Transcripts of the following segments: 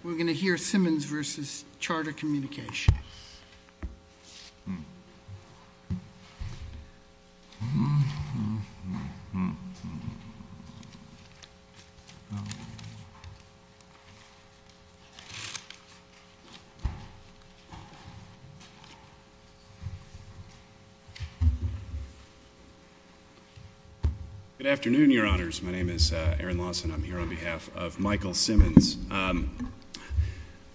Good afternoon, your honors. My name is Aaron Lawson. I'm here on behalf of Michael Simmons.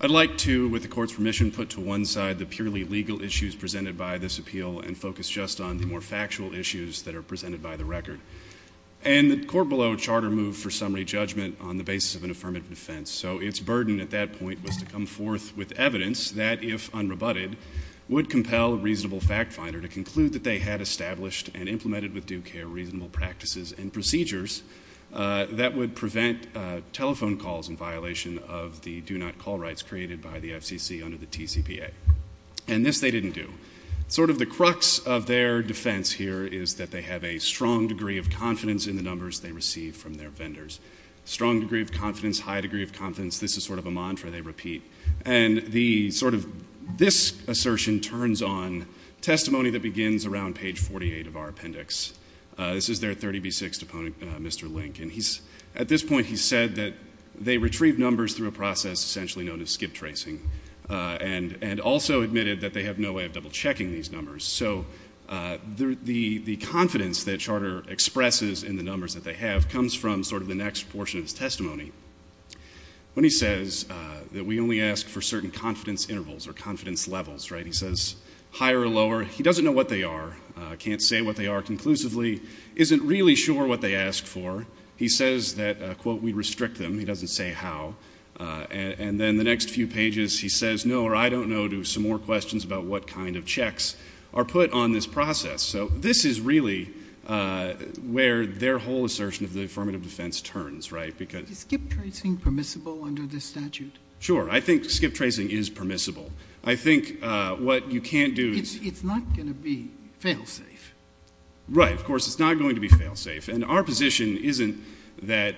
I'd like to, with the court's permission, put to one side the purely legal issues presented by this appeal and focus just on the more factual issues that are presented by the record. And the court below charter moved for summary judgment on the basis of an affirmative defense. So its burden at that point was to come forth with evidence that, if unrebutted, would compel a reasonable fact finder to conclude that they had established and implemented with due care reasonable practices and procedures that would prevent telephone calls in violation of the do not call rights created by the FCC under the TCPA. And this they didn't do. Sort of the crux of their defense here is that they have a strong degree of confidence in the numbers they receive from their vendors. Strong degree of confidence, high degree of confidence, this is sort of a mantra they repeat. And this assertion turns on testimony that begins around page 48 of our appendix. This is their 30B6 opponent, Mr. Link. And at this point he said that they retrieve numbers through a process essentially known as skip tracing and also admitted that they have no way of double checking these numbers. So the confidence that Charter expresses in the numbers that they have comes from sort of the next portion of his testimony. When he says that we only ask for certain confidence intervals or confidence levels, right, he says higher or lower. He doesn't know what they are. Can't say what they are conclusively. Isn't really sure what they ask for. He says that, quote, we restrict them. He doesn't say how. And then the next few pages he says no or I don't know to some more questions about what kind of checks are put on this process. So this is really where their whole assertion of the affirmative defense turns, right, because ‑‑ Is skip tracing permissible under this statute? Sure. I think skip tracing is permissible. I think what you can't do ‑‑ It's not going to be fail safe. Right. Of course, it's not going to be fail safe. And our position isn't that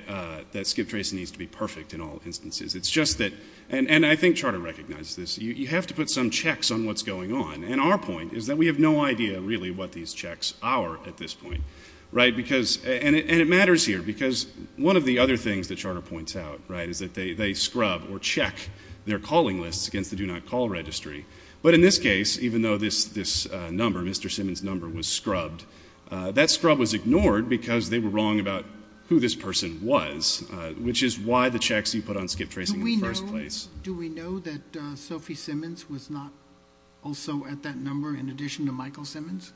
skip tracing needs to be perfect in all instances. It's just that ‑‑ and I think Charter recognizes this. You have to put some checks on what's going on. And our point is that we have no idea really what these checks are at this point, right? And it matters here because one of the other things that Charter points out, right, is that they scrub or check their calling lists against the do not call registry. But in this case, even though this number, Mr. Simmons' number, was scrubbed, that scrub was ignored because they were wrong about who this person was, which is why the checks you put on skip tracing in the first place. Do we know that Sophie Simmons was not also at that number in addition to Michael Simmons?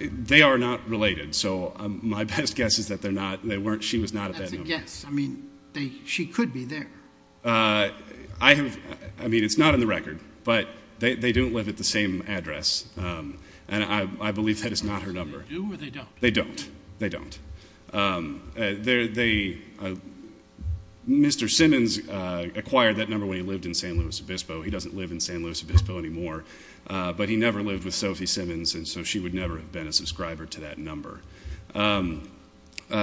They are not related. So my best guess is that she was not at that number. That's a guess. I mean, she could be there. I mean, it's not in the record. But they don't live at the same address. And I believe that is not her number. They do or they don't? They don't. They don't. Mr. Simmons acquired that number when he lived in San Luis Obispo. He doesn't live in San Luis Obispo anymore. But he never lived with Sophie Simmons, and so she would never have been a subscriber to that number.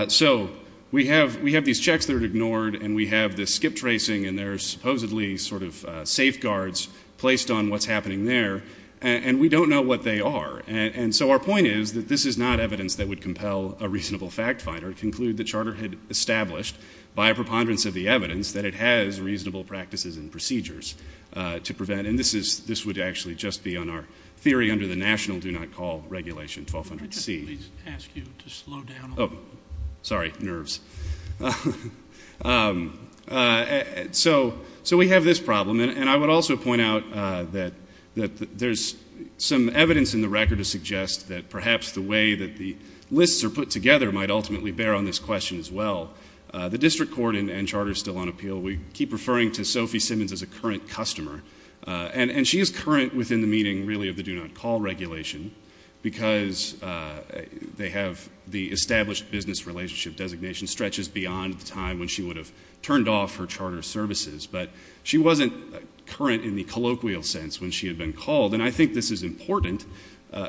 So we have these checks that are ignored, and we have this skip tracing, and there are supposedly sort of safeguards placed on what's happening there, and we don't know what they are. And so our point is that this is not evidence that would compel a reasonable fact finder to conclude that Charter had established, by a preponderance of the evidence, that it has reasonable practices and procedures to prevent. And this would actually just be on our theory under the National Do Not Call Regulation 1200C. I'd like to ask you to slow down a little bit. Sorry, nerves. So we have this problem, and I would also point out that there's some evidence in the record to suggest that perhaps the way that the lists are put together might ultimately bear on this question as well. The District Court and Charter are still on appeal. We keep referring to Sophie Simmons as a current customer, and she is current within the meaning, really, of the Do Not Call Regulation because they have the established business relationship designation stretches beyond the time when she would have turned off her Charter services. But she wasn't current in the colloquial sense when she had been called, and I think this is important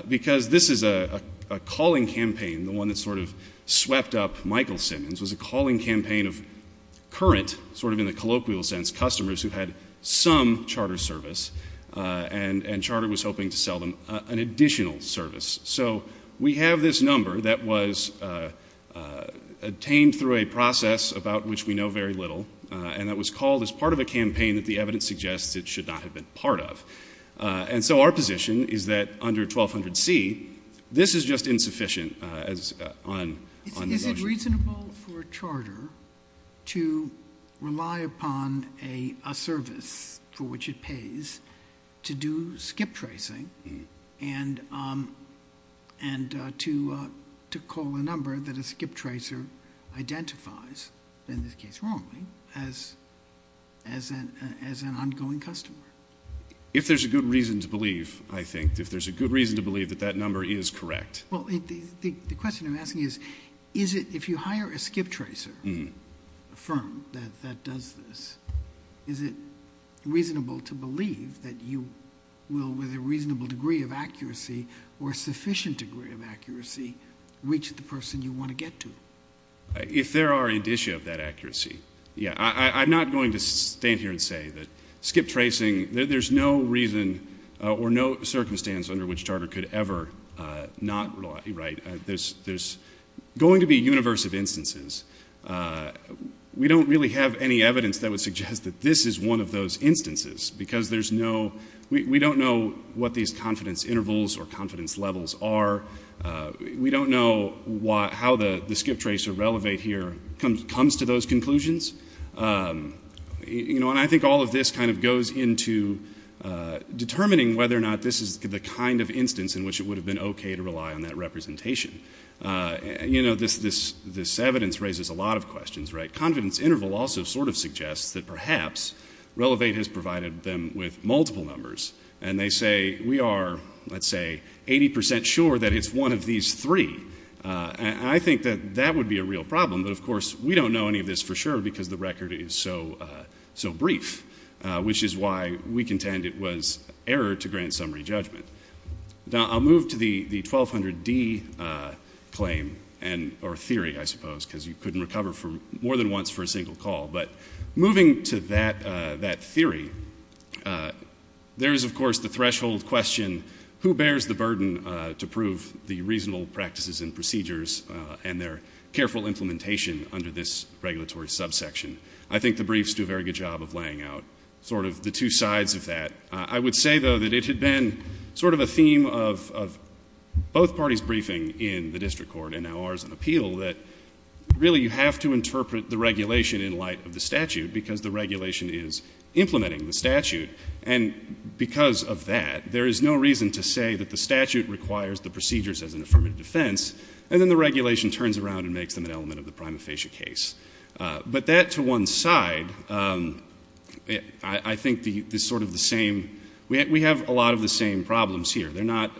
because this is a calling campaign, the one that sort of swept up Michael Simmons, was a calling campaign of current, sort of in the colloquial sense, customers who had some Charter service and Charter was hoping to sell them an additional service. So we have this number that was obtained through a process about which we know very little and that was called as part of a campaign that the evidence suggests it should not have been part of. And so our position is that under 1200C, this is just insufficient on the notion. Is it reasonable for a charter to rely upon a service for which it pays to do skip tracing and to call a number that a skip tracer identifies, in this case wrongly, as an ongoing customer? If there's a good reason to believe, I think, if there's a good reason to believe that that number is correct. Well, the question I'm asking is, if you hire a skip tracer firm that does this, is it reasonable to believe that you will, with a reasonable degree of accuracy or a sufficient degree of accuracy, reach the person you want to get to? If there are indicia of that accuracy, yeah. I'm not going to stand here and say that skip tracing, there's no reason or no circumstance under which a charter could ever not rely. There's going to be a universe of instances. We don't really have any evidence that would suggest that this is one of those instances because we don't know what these confidence intervals or confidence levels are. We don't know how the skip tracer relevant here comes to those conclusions. I think all of this goes into determining whether or not this is the kind of instance in which it would have been okay to rely on that representation. This evidence raises a lot of questions. Confidence interval also suggests that perhaps Relevate has provided them with multiple numbers and they say, we are, let's say, 80% sure that it's one of these three. I think that that would be a real problem, but, of course, we don't know any of this for sure because the record is so brief, which is why we contend it was error to grant summary judgment. I'll move to the 1200D claim or theory, I suppose, because you couldn't recover more than once for a single call. Moving to that theory, there is, of course, the threshold question, I think the briefs do a very good job of laying out sort of the two sides of that. I would say, though, that it had been sort of a theme of both parties' briefing in the district court and now ours in appeal that really you have to interpret the regulation in light of the statute because the regulation is implementing the statute. And because of that, there is no reason to say that the statute requires the procedures as an affirmative defense and then the regulation turns around and makes them an element of the prima facie case. But that, to one side, I think is sort of the same. We have a lot of the same problems here. They're not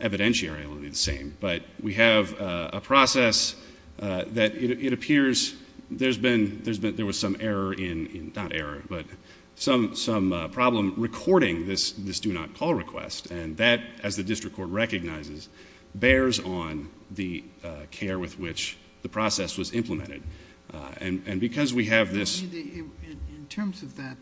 evidentiarily the same, but we have a process that it appears there was some error in, not error, but some problem recording this do-not-call request, and that, as the district court recognizes, bears on the care with which the process was implemented. And because we have this. In terms of that,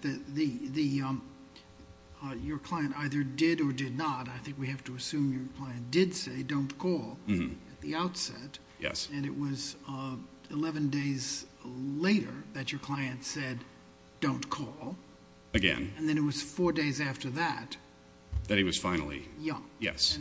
your client either did or did not, I think we have to assume your client did say don't call at the outset. Yes. And it was 11 days later that your client said don't call. Again. And then it was four days after that. That he was finally. Yeah. Yes.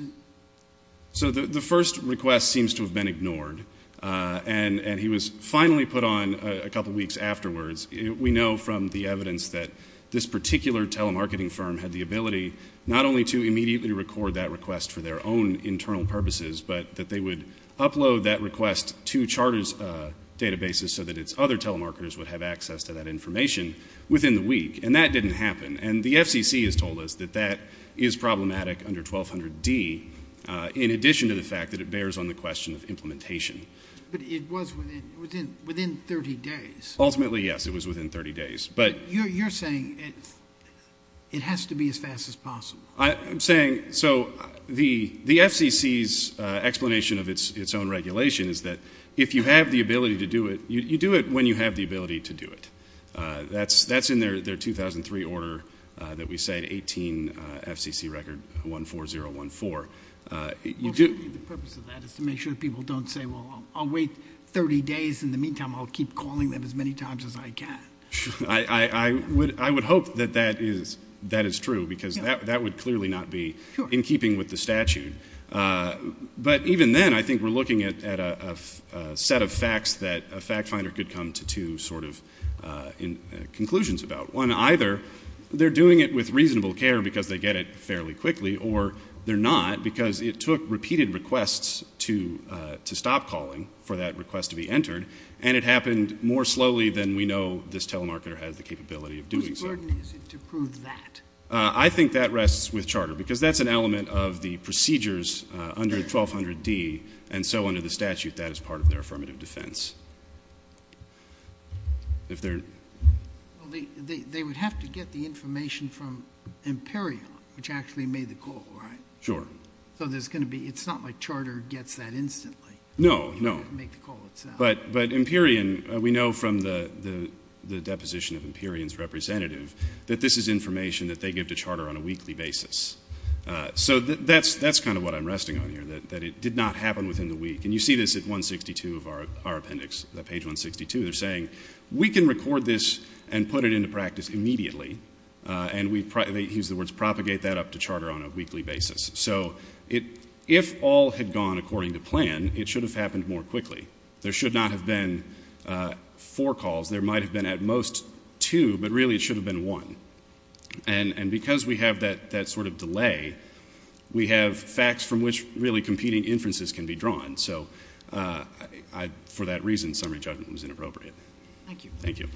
So the first request seems to have been ignored, and he was finally put on a couple weeks afterwards. We know from the evidence that this particular telemarketing firm had the ability not only to immediately record that request for their own internal purposes, but that they would upload that request to charter's databases so that its other telemarketers would have access to that information within the week. And that didn't happen. And the FCC has told us that that is problematic under 1200D, in addition to the fact that it bears on the question of implementation. But it was within 30 days. Ultimately, yes, it was within 30 days. But you're saying it has to be as fast as possible. I'm saying so the FCC's explanation of its own regulation is that if you have the ability to do it, you do it when you have the ability to do it. That's in their 2003 order that we say, 18 FCC record 14014. The purpose of that is to make sure people don't say, well, I'll wait 30 days, in the meantime I'll keep calling them as many times as I can. I would hope that that is true because that would clearly not be in keeping with the statute. But even then, I think we're looking at a set of facts that a fact finder could come to sort of conclusions about. One, either they're doing it with reasonable care because they get it fairly quickly, or they're not because it took repeated requests to stop calling for that request to be entered, and it happened more slowly than we know this telemarketer has the capability of doing so. Whose burden is it to prove that? I think that rests with charter because that's an element of the procedures under 1200D, and so under the statute that is part of their affirmative defense. They would have to get the information from Imperion, which actually made the call, right? Sure. So it's not like charter gets that instantly. No, no. But Imperion, we know from the deposition of Imperion's representative, that this is information that they give to charter on a weekly basis. So that's kind of what I'm resting on here, that it did not happen within the week. And you see this at 162 of our appendix, page 162. They're saying, we can record this and put it into practice immediately, and they use the words propagate that up to charter on a weekly basis. So if all had gone according to plan, it should have happened more quickly. There should not have been four calls. There might have been at most two, but really it should have been one. And because we have that sort of delay, we have facts from which really competing inferences can be drawn. So for that reason, summary judgment was inappropriate. Thank you. Thank you.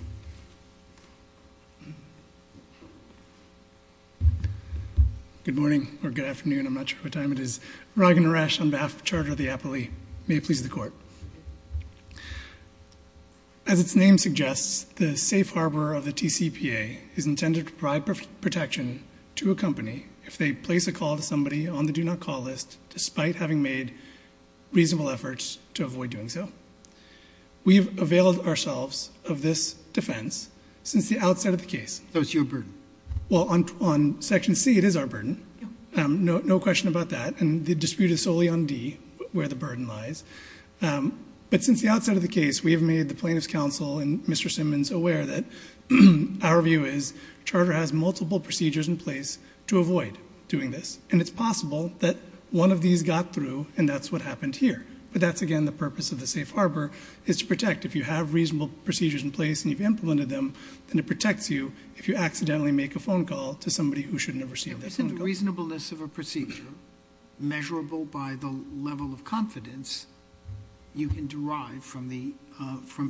Good morning, or good afternoon. I'm not sure what time it is. Raghun Resh on behalf of Charter of the Appellee. May it please the Court. As its name suggests, the safe harbor of the TCPA is intended to provide protection to a company if they place a call to somebody on the do not call list, despite having made reasonable efforts to avoid doing so. We have availed ourselves of this defense since the outset of the case. So it's your burden. Well, on section C, it is our burden. No question about that. And the dispute is solely on D, where the burden lies. But since the outset of the case, we have made the plaintiff's counsel and Mr. Simmons aware that our view is Charter has multiple procedures in place to avoid doing this. And it's possible that one of these got through, and that's what happened here. But that's, again, the purpose of the safe harbor is to protect. If you have reasonable procedures in place and you've implemented them, then it protects you if you accidentally make a phone call to somebody who shouldn't have received that phone call. But the reasonableness of a procedure, measurable by the level of confidence, you can derive from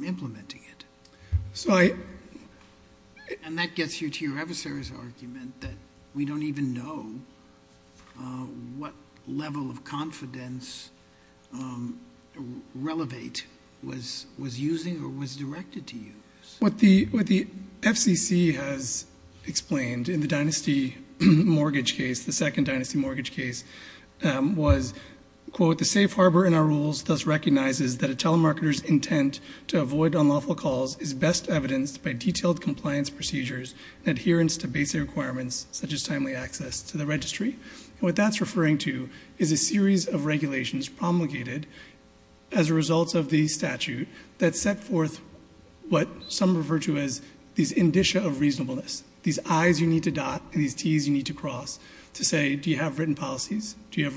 implementing it. And that gets you to your adversary's argument that we don't even know what level of confidence Relevate was using or was directed to use. What the FCC has explained in the dynasty mortgage case, the second dynasty mortgage case, was, quote, the safe harbor in our rules thus recognizes that a telemarketer's intent to avoid unlawful calls is best evidenced by detailed compliance procedures and adherence to basic requirements, such as timely access to the registry. And what that's referring to is a series of regulations promulgated as a result of the statute that set forth what some refer to as these indicia of reasonableness, these I's you need to dot and these T's you need to cross to say, do you have written policies? Do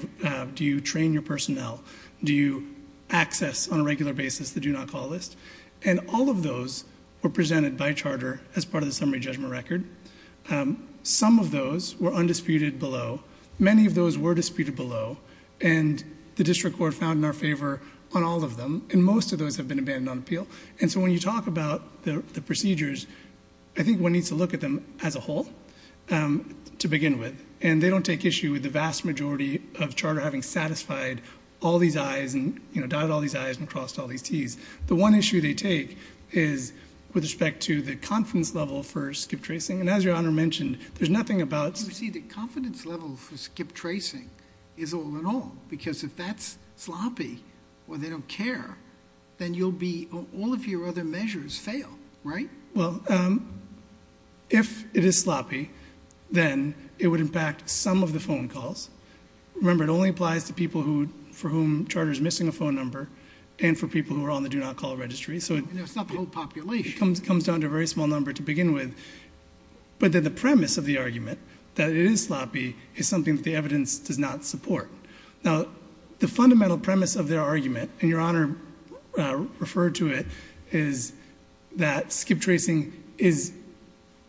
you train your personnel? Do you access on a regular basis the do not call list? And all of those were presented by charter as part of the summary judgment record. Some of those were undisputed below. Many of those were disputed below, and the district court found in our favor on all of them, and most of those have been abandoned on appeal. And so when you talk about the procedures, I think one needs to look at them as a whole to begin with, and they don't take issue with the vast majority of charter having satisfied all these I's and dotted all these I's and crossed all these T's. The one issue they take is with respect to the confidence level for skip tracing, and as Your Honor mentioned, there's nothing about the confidence level for skip tracing is all in all because if that's sloppy or they don't care, then all of your other measures fail, right? Well, if it is sloppy, then it would impact some of the phone calls. Remember, it only applies to people for whom charter is missing a phone number and for people who are on the do not call registry. It's not the whole population. It comes down to a very small number to begin with, but then the premise of the argument that it is sloppy is something that the evidence does not support. Now, the fundamental premise of their argument, and Your Honor referred to it, is that skip tracing is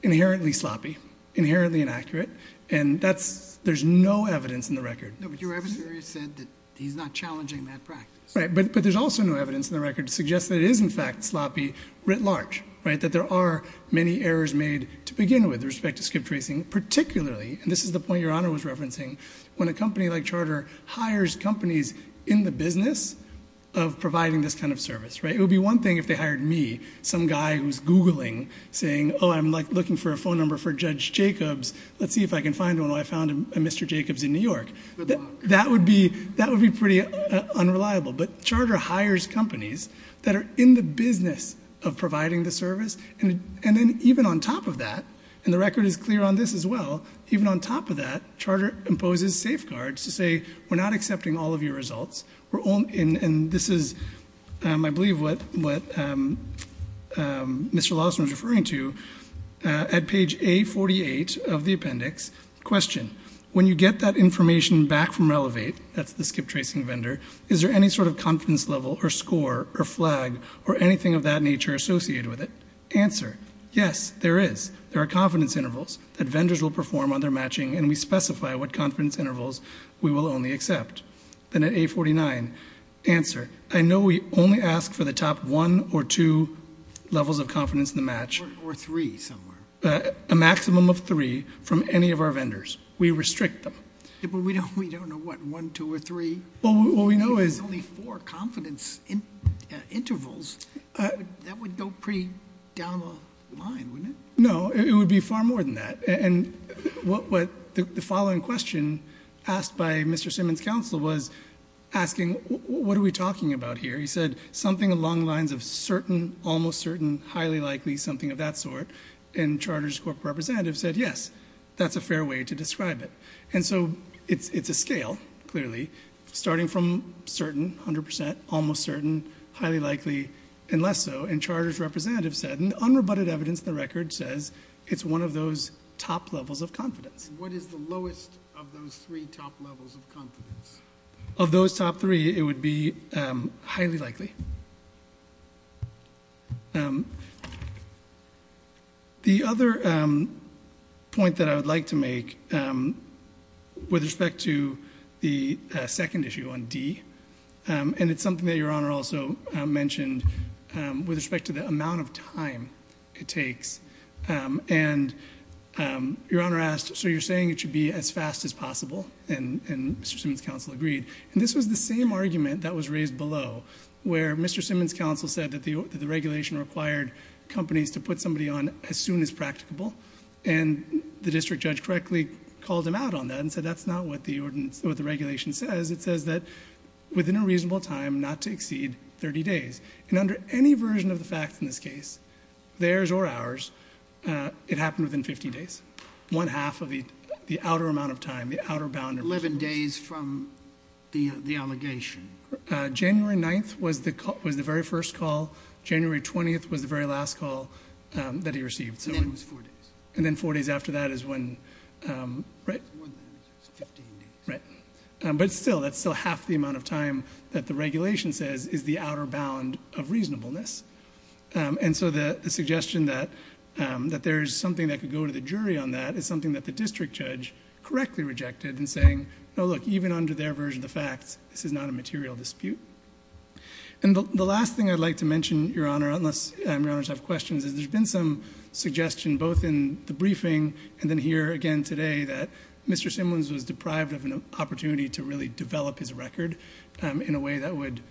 inherently sloppy, inherently inaccurate, and there's no evidence in the record. No, but your evidence said that he's not challenging that practice. Right, but there's also no evidence in the record to suggest that it is, in fact, sloppy writ large, right, that there are many errors made to begin with with respect to skip tracing, particularly, and this is the point Your Honor was referencing, when a company like charter hires companies in the business of providing this kind of service, right? It would be one thing if they hired me, some guy who's Googling, saying, oh, I'm looking for a phone number for Judge Jacobs. Let's see if I can find one. I found a Mr. Jacobs in New York. That would be pretty unreliable, but charter hires companies that are in the business of providing the service, and then even on top of that, and the record is clear on this as well, even on top of that, charter imposes safeguards to say we're not accepting all of your results, and this is, I believe, what Mr. Lawson was referring to at page A48 of the appendix. Question, when you get that information back from Relevate, that's the skip tracing vendor, is there any sort of confidence level or score or flag or anything of that nature associated with it? Answer, yes, there is. There are confidence intervals that vendors will perform on their matching, and we specify what confidence intervals we will only accept. Then at A49, answer, I know we only ask for the top one or two levels of confidence in the match. Or three somewhere. A maximum of three from any of our vendors. We restrict them. We don't know what, one, two, or three? What we know is only four confidence intervals. That would go pretty down the line, wouldn't it? No, it would be far more than that. And the following question asked by Mr. Simmons' counsel was asking what are we talking about here. He said something along the lines of certain, almost certain, highly likely something of that sort, and charter's corporate representative said yes, that's a fair way to describe it. And so it's a scale, clearly, starting from certain, 100%, almost certain, highly likely, and less so. And charter's representative said, and unrebutted evidence in the record says it's one of those top levels of confidence. What is the lowest of those three top levels of confidence? Of those top three, it would be highly likely. The other point that I would like to make with respect to the second issue on D, and it's something that Your Honor also mentioned with respect to the amount of time it takes. And Your Honor asked, so you're saying it should be as fast as possible, and Mr. Simmons' counsel agreed. And this was the same argument that was raised below, where Mr. Simmons' counsel said that the regulation required companies to put somebody on as soon as practicable. And the district judge correctly called him out on that and said that's not what the regulation says. It says that within a reasonable time, not to exceed 30 days. And under any version of the facts in this case, theirs or ours, it happened within 50 days. One half of the outer amount of time, the outer bound- 11 days from the allegation. January 9th was the very first call. January 20th was the very last call that he received. So it was four days. And then four days after that is when- More than 15 days. Right. But still, that's still half the amount of time that the regulation says is the outer bound of reasonableness. And so the suggestion that there's something that could go to the jury on that is something that the district judge correctly rejected and saying, no, look, even under their version of the facts, this is not a material dispute. And the last thing I'd like to mention, Your Honor, unless Your Honors have questions, is there's been some suggestion both in the briefing and then here again today that Mr. Simmons was deprived of an opportunity to really develop his record in a way that would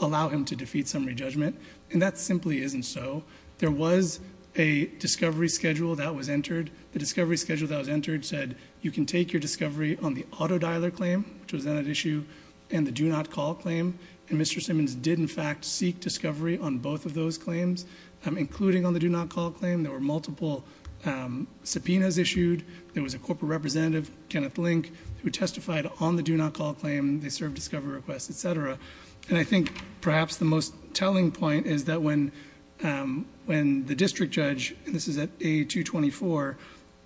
allow him to defeat summary judgment. And that simply isn't so. There was a discovery schedule that was entered. The discovery schedule that was entered said you can take your discovery on the auto dialer claim, which was then at issue, and the do not call claim. And Mr. Simmons did, in fact, seek discovery on both of those claims, including on the do not call claim. There were multiple subpoenas issued. There was a corporate representative, Kenneth Link, who testified on the do not call claim. They served discovery requests, et cetera. And I think perhaps the most telling point is that when the district judge, and this is at A224,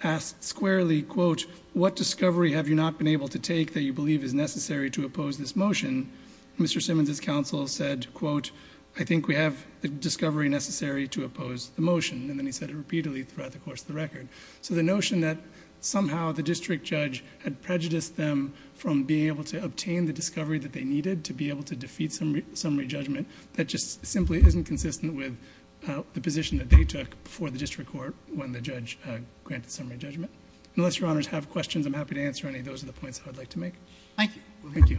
asked squarely, quote, what discovery have you not been able to take that you believe is necessary to oppose this motion? Mr. Simmons' counsel said, quote, I think we have the discovery necessary to oppose the motion. And then he said it repeatedly throughout the course of the record. So the notion that somehow the district judge had prejudiced them from being able to obtain the discovery that they needed to be able to defeat summary judgment, that just simply isn't consistent with the position that they took before the district court when the judge granted summary judgment. Unless your honors have questions, I'm happy to answer any. Those are the points that I'd like to make. Thank you. Thank you.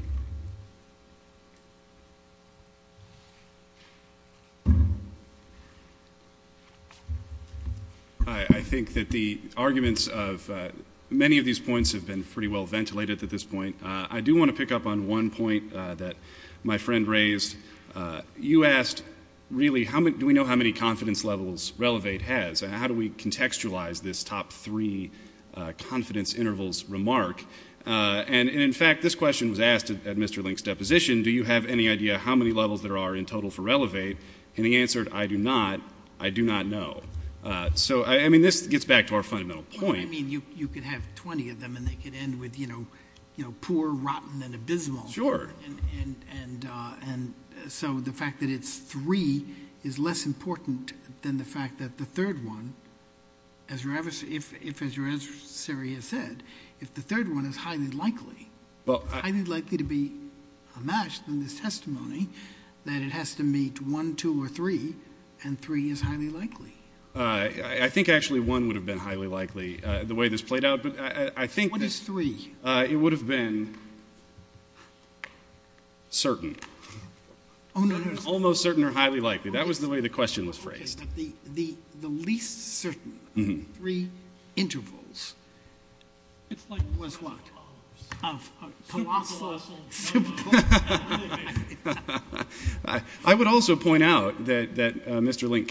I think that the arguments of many of these points have been pretty well ventilated at this point. I do want to pick up on one point that my friend raised. You asked, really, do we know how many confidence levels Relevate has, and how do we contextualize this top three confidence intervals remark? And, in fact, this question was asked at Mr. Link's deposition. Do you have any idea how many levels there are in total for Relevate? And he answered, I do not. I do not know. So, I mean, this gets back to our fundamental point. I mean, you could have 20 of them, and they could end with, you know, poor, rotten, and abysmal. Sure. And so the fact that it's three is less important than the fact that the third one, if, as your adversary has said, if the third one is highly likely, highly likely to be a match in this testimony, that it has to meet one, two, or three, and three is highly likely. I think, actually, one would have been highly likely, the way this played out. What is three? It would have been certain. Oh, no, no. Almost certain or highly likely. That was the way the question was phrased. The least certain three intervals was what? Colossal. I would also point out that Mr. Link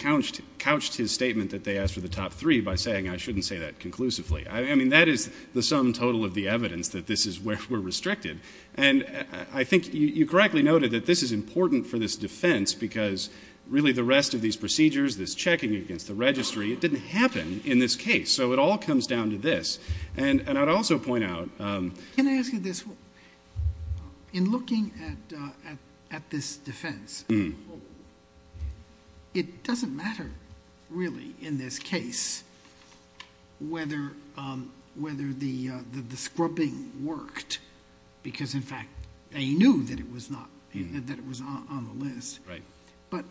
couched his statement that they asked for the top three by saying, I shouldn't say that conclusively. I mean, that is the sum total of the evidence that this is where we're restricted. And I think you correctly noted that this is important for this defense, because really the rest of these procedures, this checking against the registry, it didn't happen in this case. So it all comes down to this. And I'd also point out. Can I ask you this? In looking at this defense, it doesn't matter, really, in this case, whether the scrubbing worked, because, in fact, they knew that it was on the list. But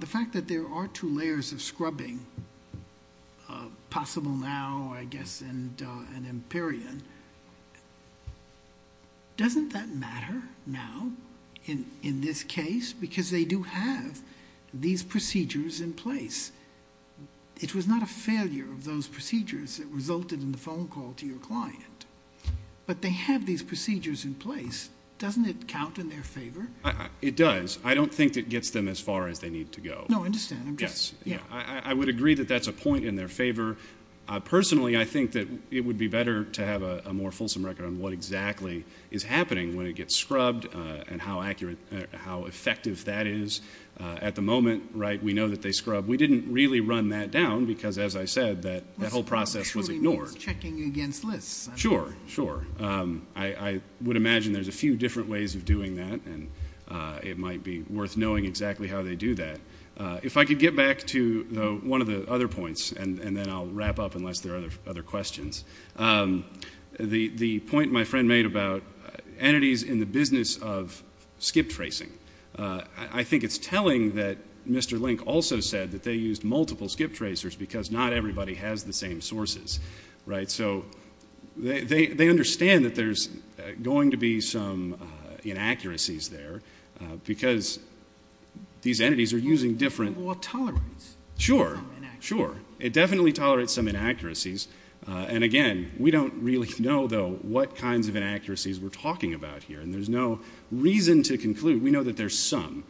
the fact that there are two layers of scrubbing, possible now, I guess, and an empirion, doesn't that matter now in this case? Because they do have these procedures in place. It was not a failure of those procedures that resulted in the phone call to your client. But they have these procedures in place. Doesn't it count in their favor? It does. I don't think it gets them as far as they need to go. No, I understand. Yes. I would agree that that's a point in their favor. Personally, I think that it would be better to have a more fulsome record on what exactly is happening when it gets scrubbed and how effective that is. At the moment, right, we know that they scrub. We didn't really run that down because, as I said, that whole process was ignored. Checking against lists. Sure, sure. I would imagine there's a few different ways of doing that, and it might be worth knowing exactly how they do that. If I could get back to one of the other points, and then I'll wrap up unless there are other questions. The point my friend made about entities in the business of skip tracing, I think it's telling that Mr. Link also said that they used multiple skip tracers because not everybody has the same sources, right? So they understand that there's going to be some inaccuracies there because these entities are using different... Well, it tolerates some inaccuracies. Sure, sure. It definitely tolerates some inaccuracies. And, again, we don't really know, though, what kinds of inaccuracies we're talking about here, and there's no reason to conclude. We know that there's some,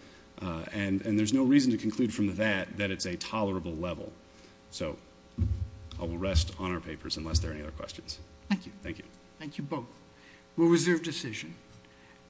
and there's no reason to conclude from that that it's a tolerable level. So I will rest on our papers unless there are any other questions. Thank you. Thank you. Thank you both. We'll reserve decision.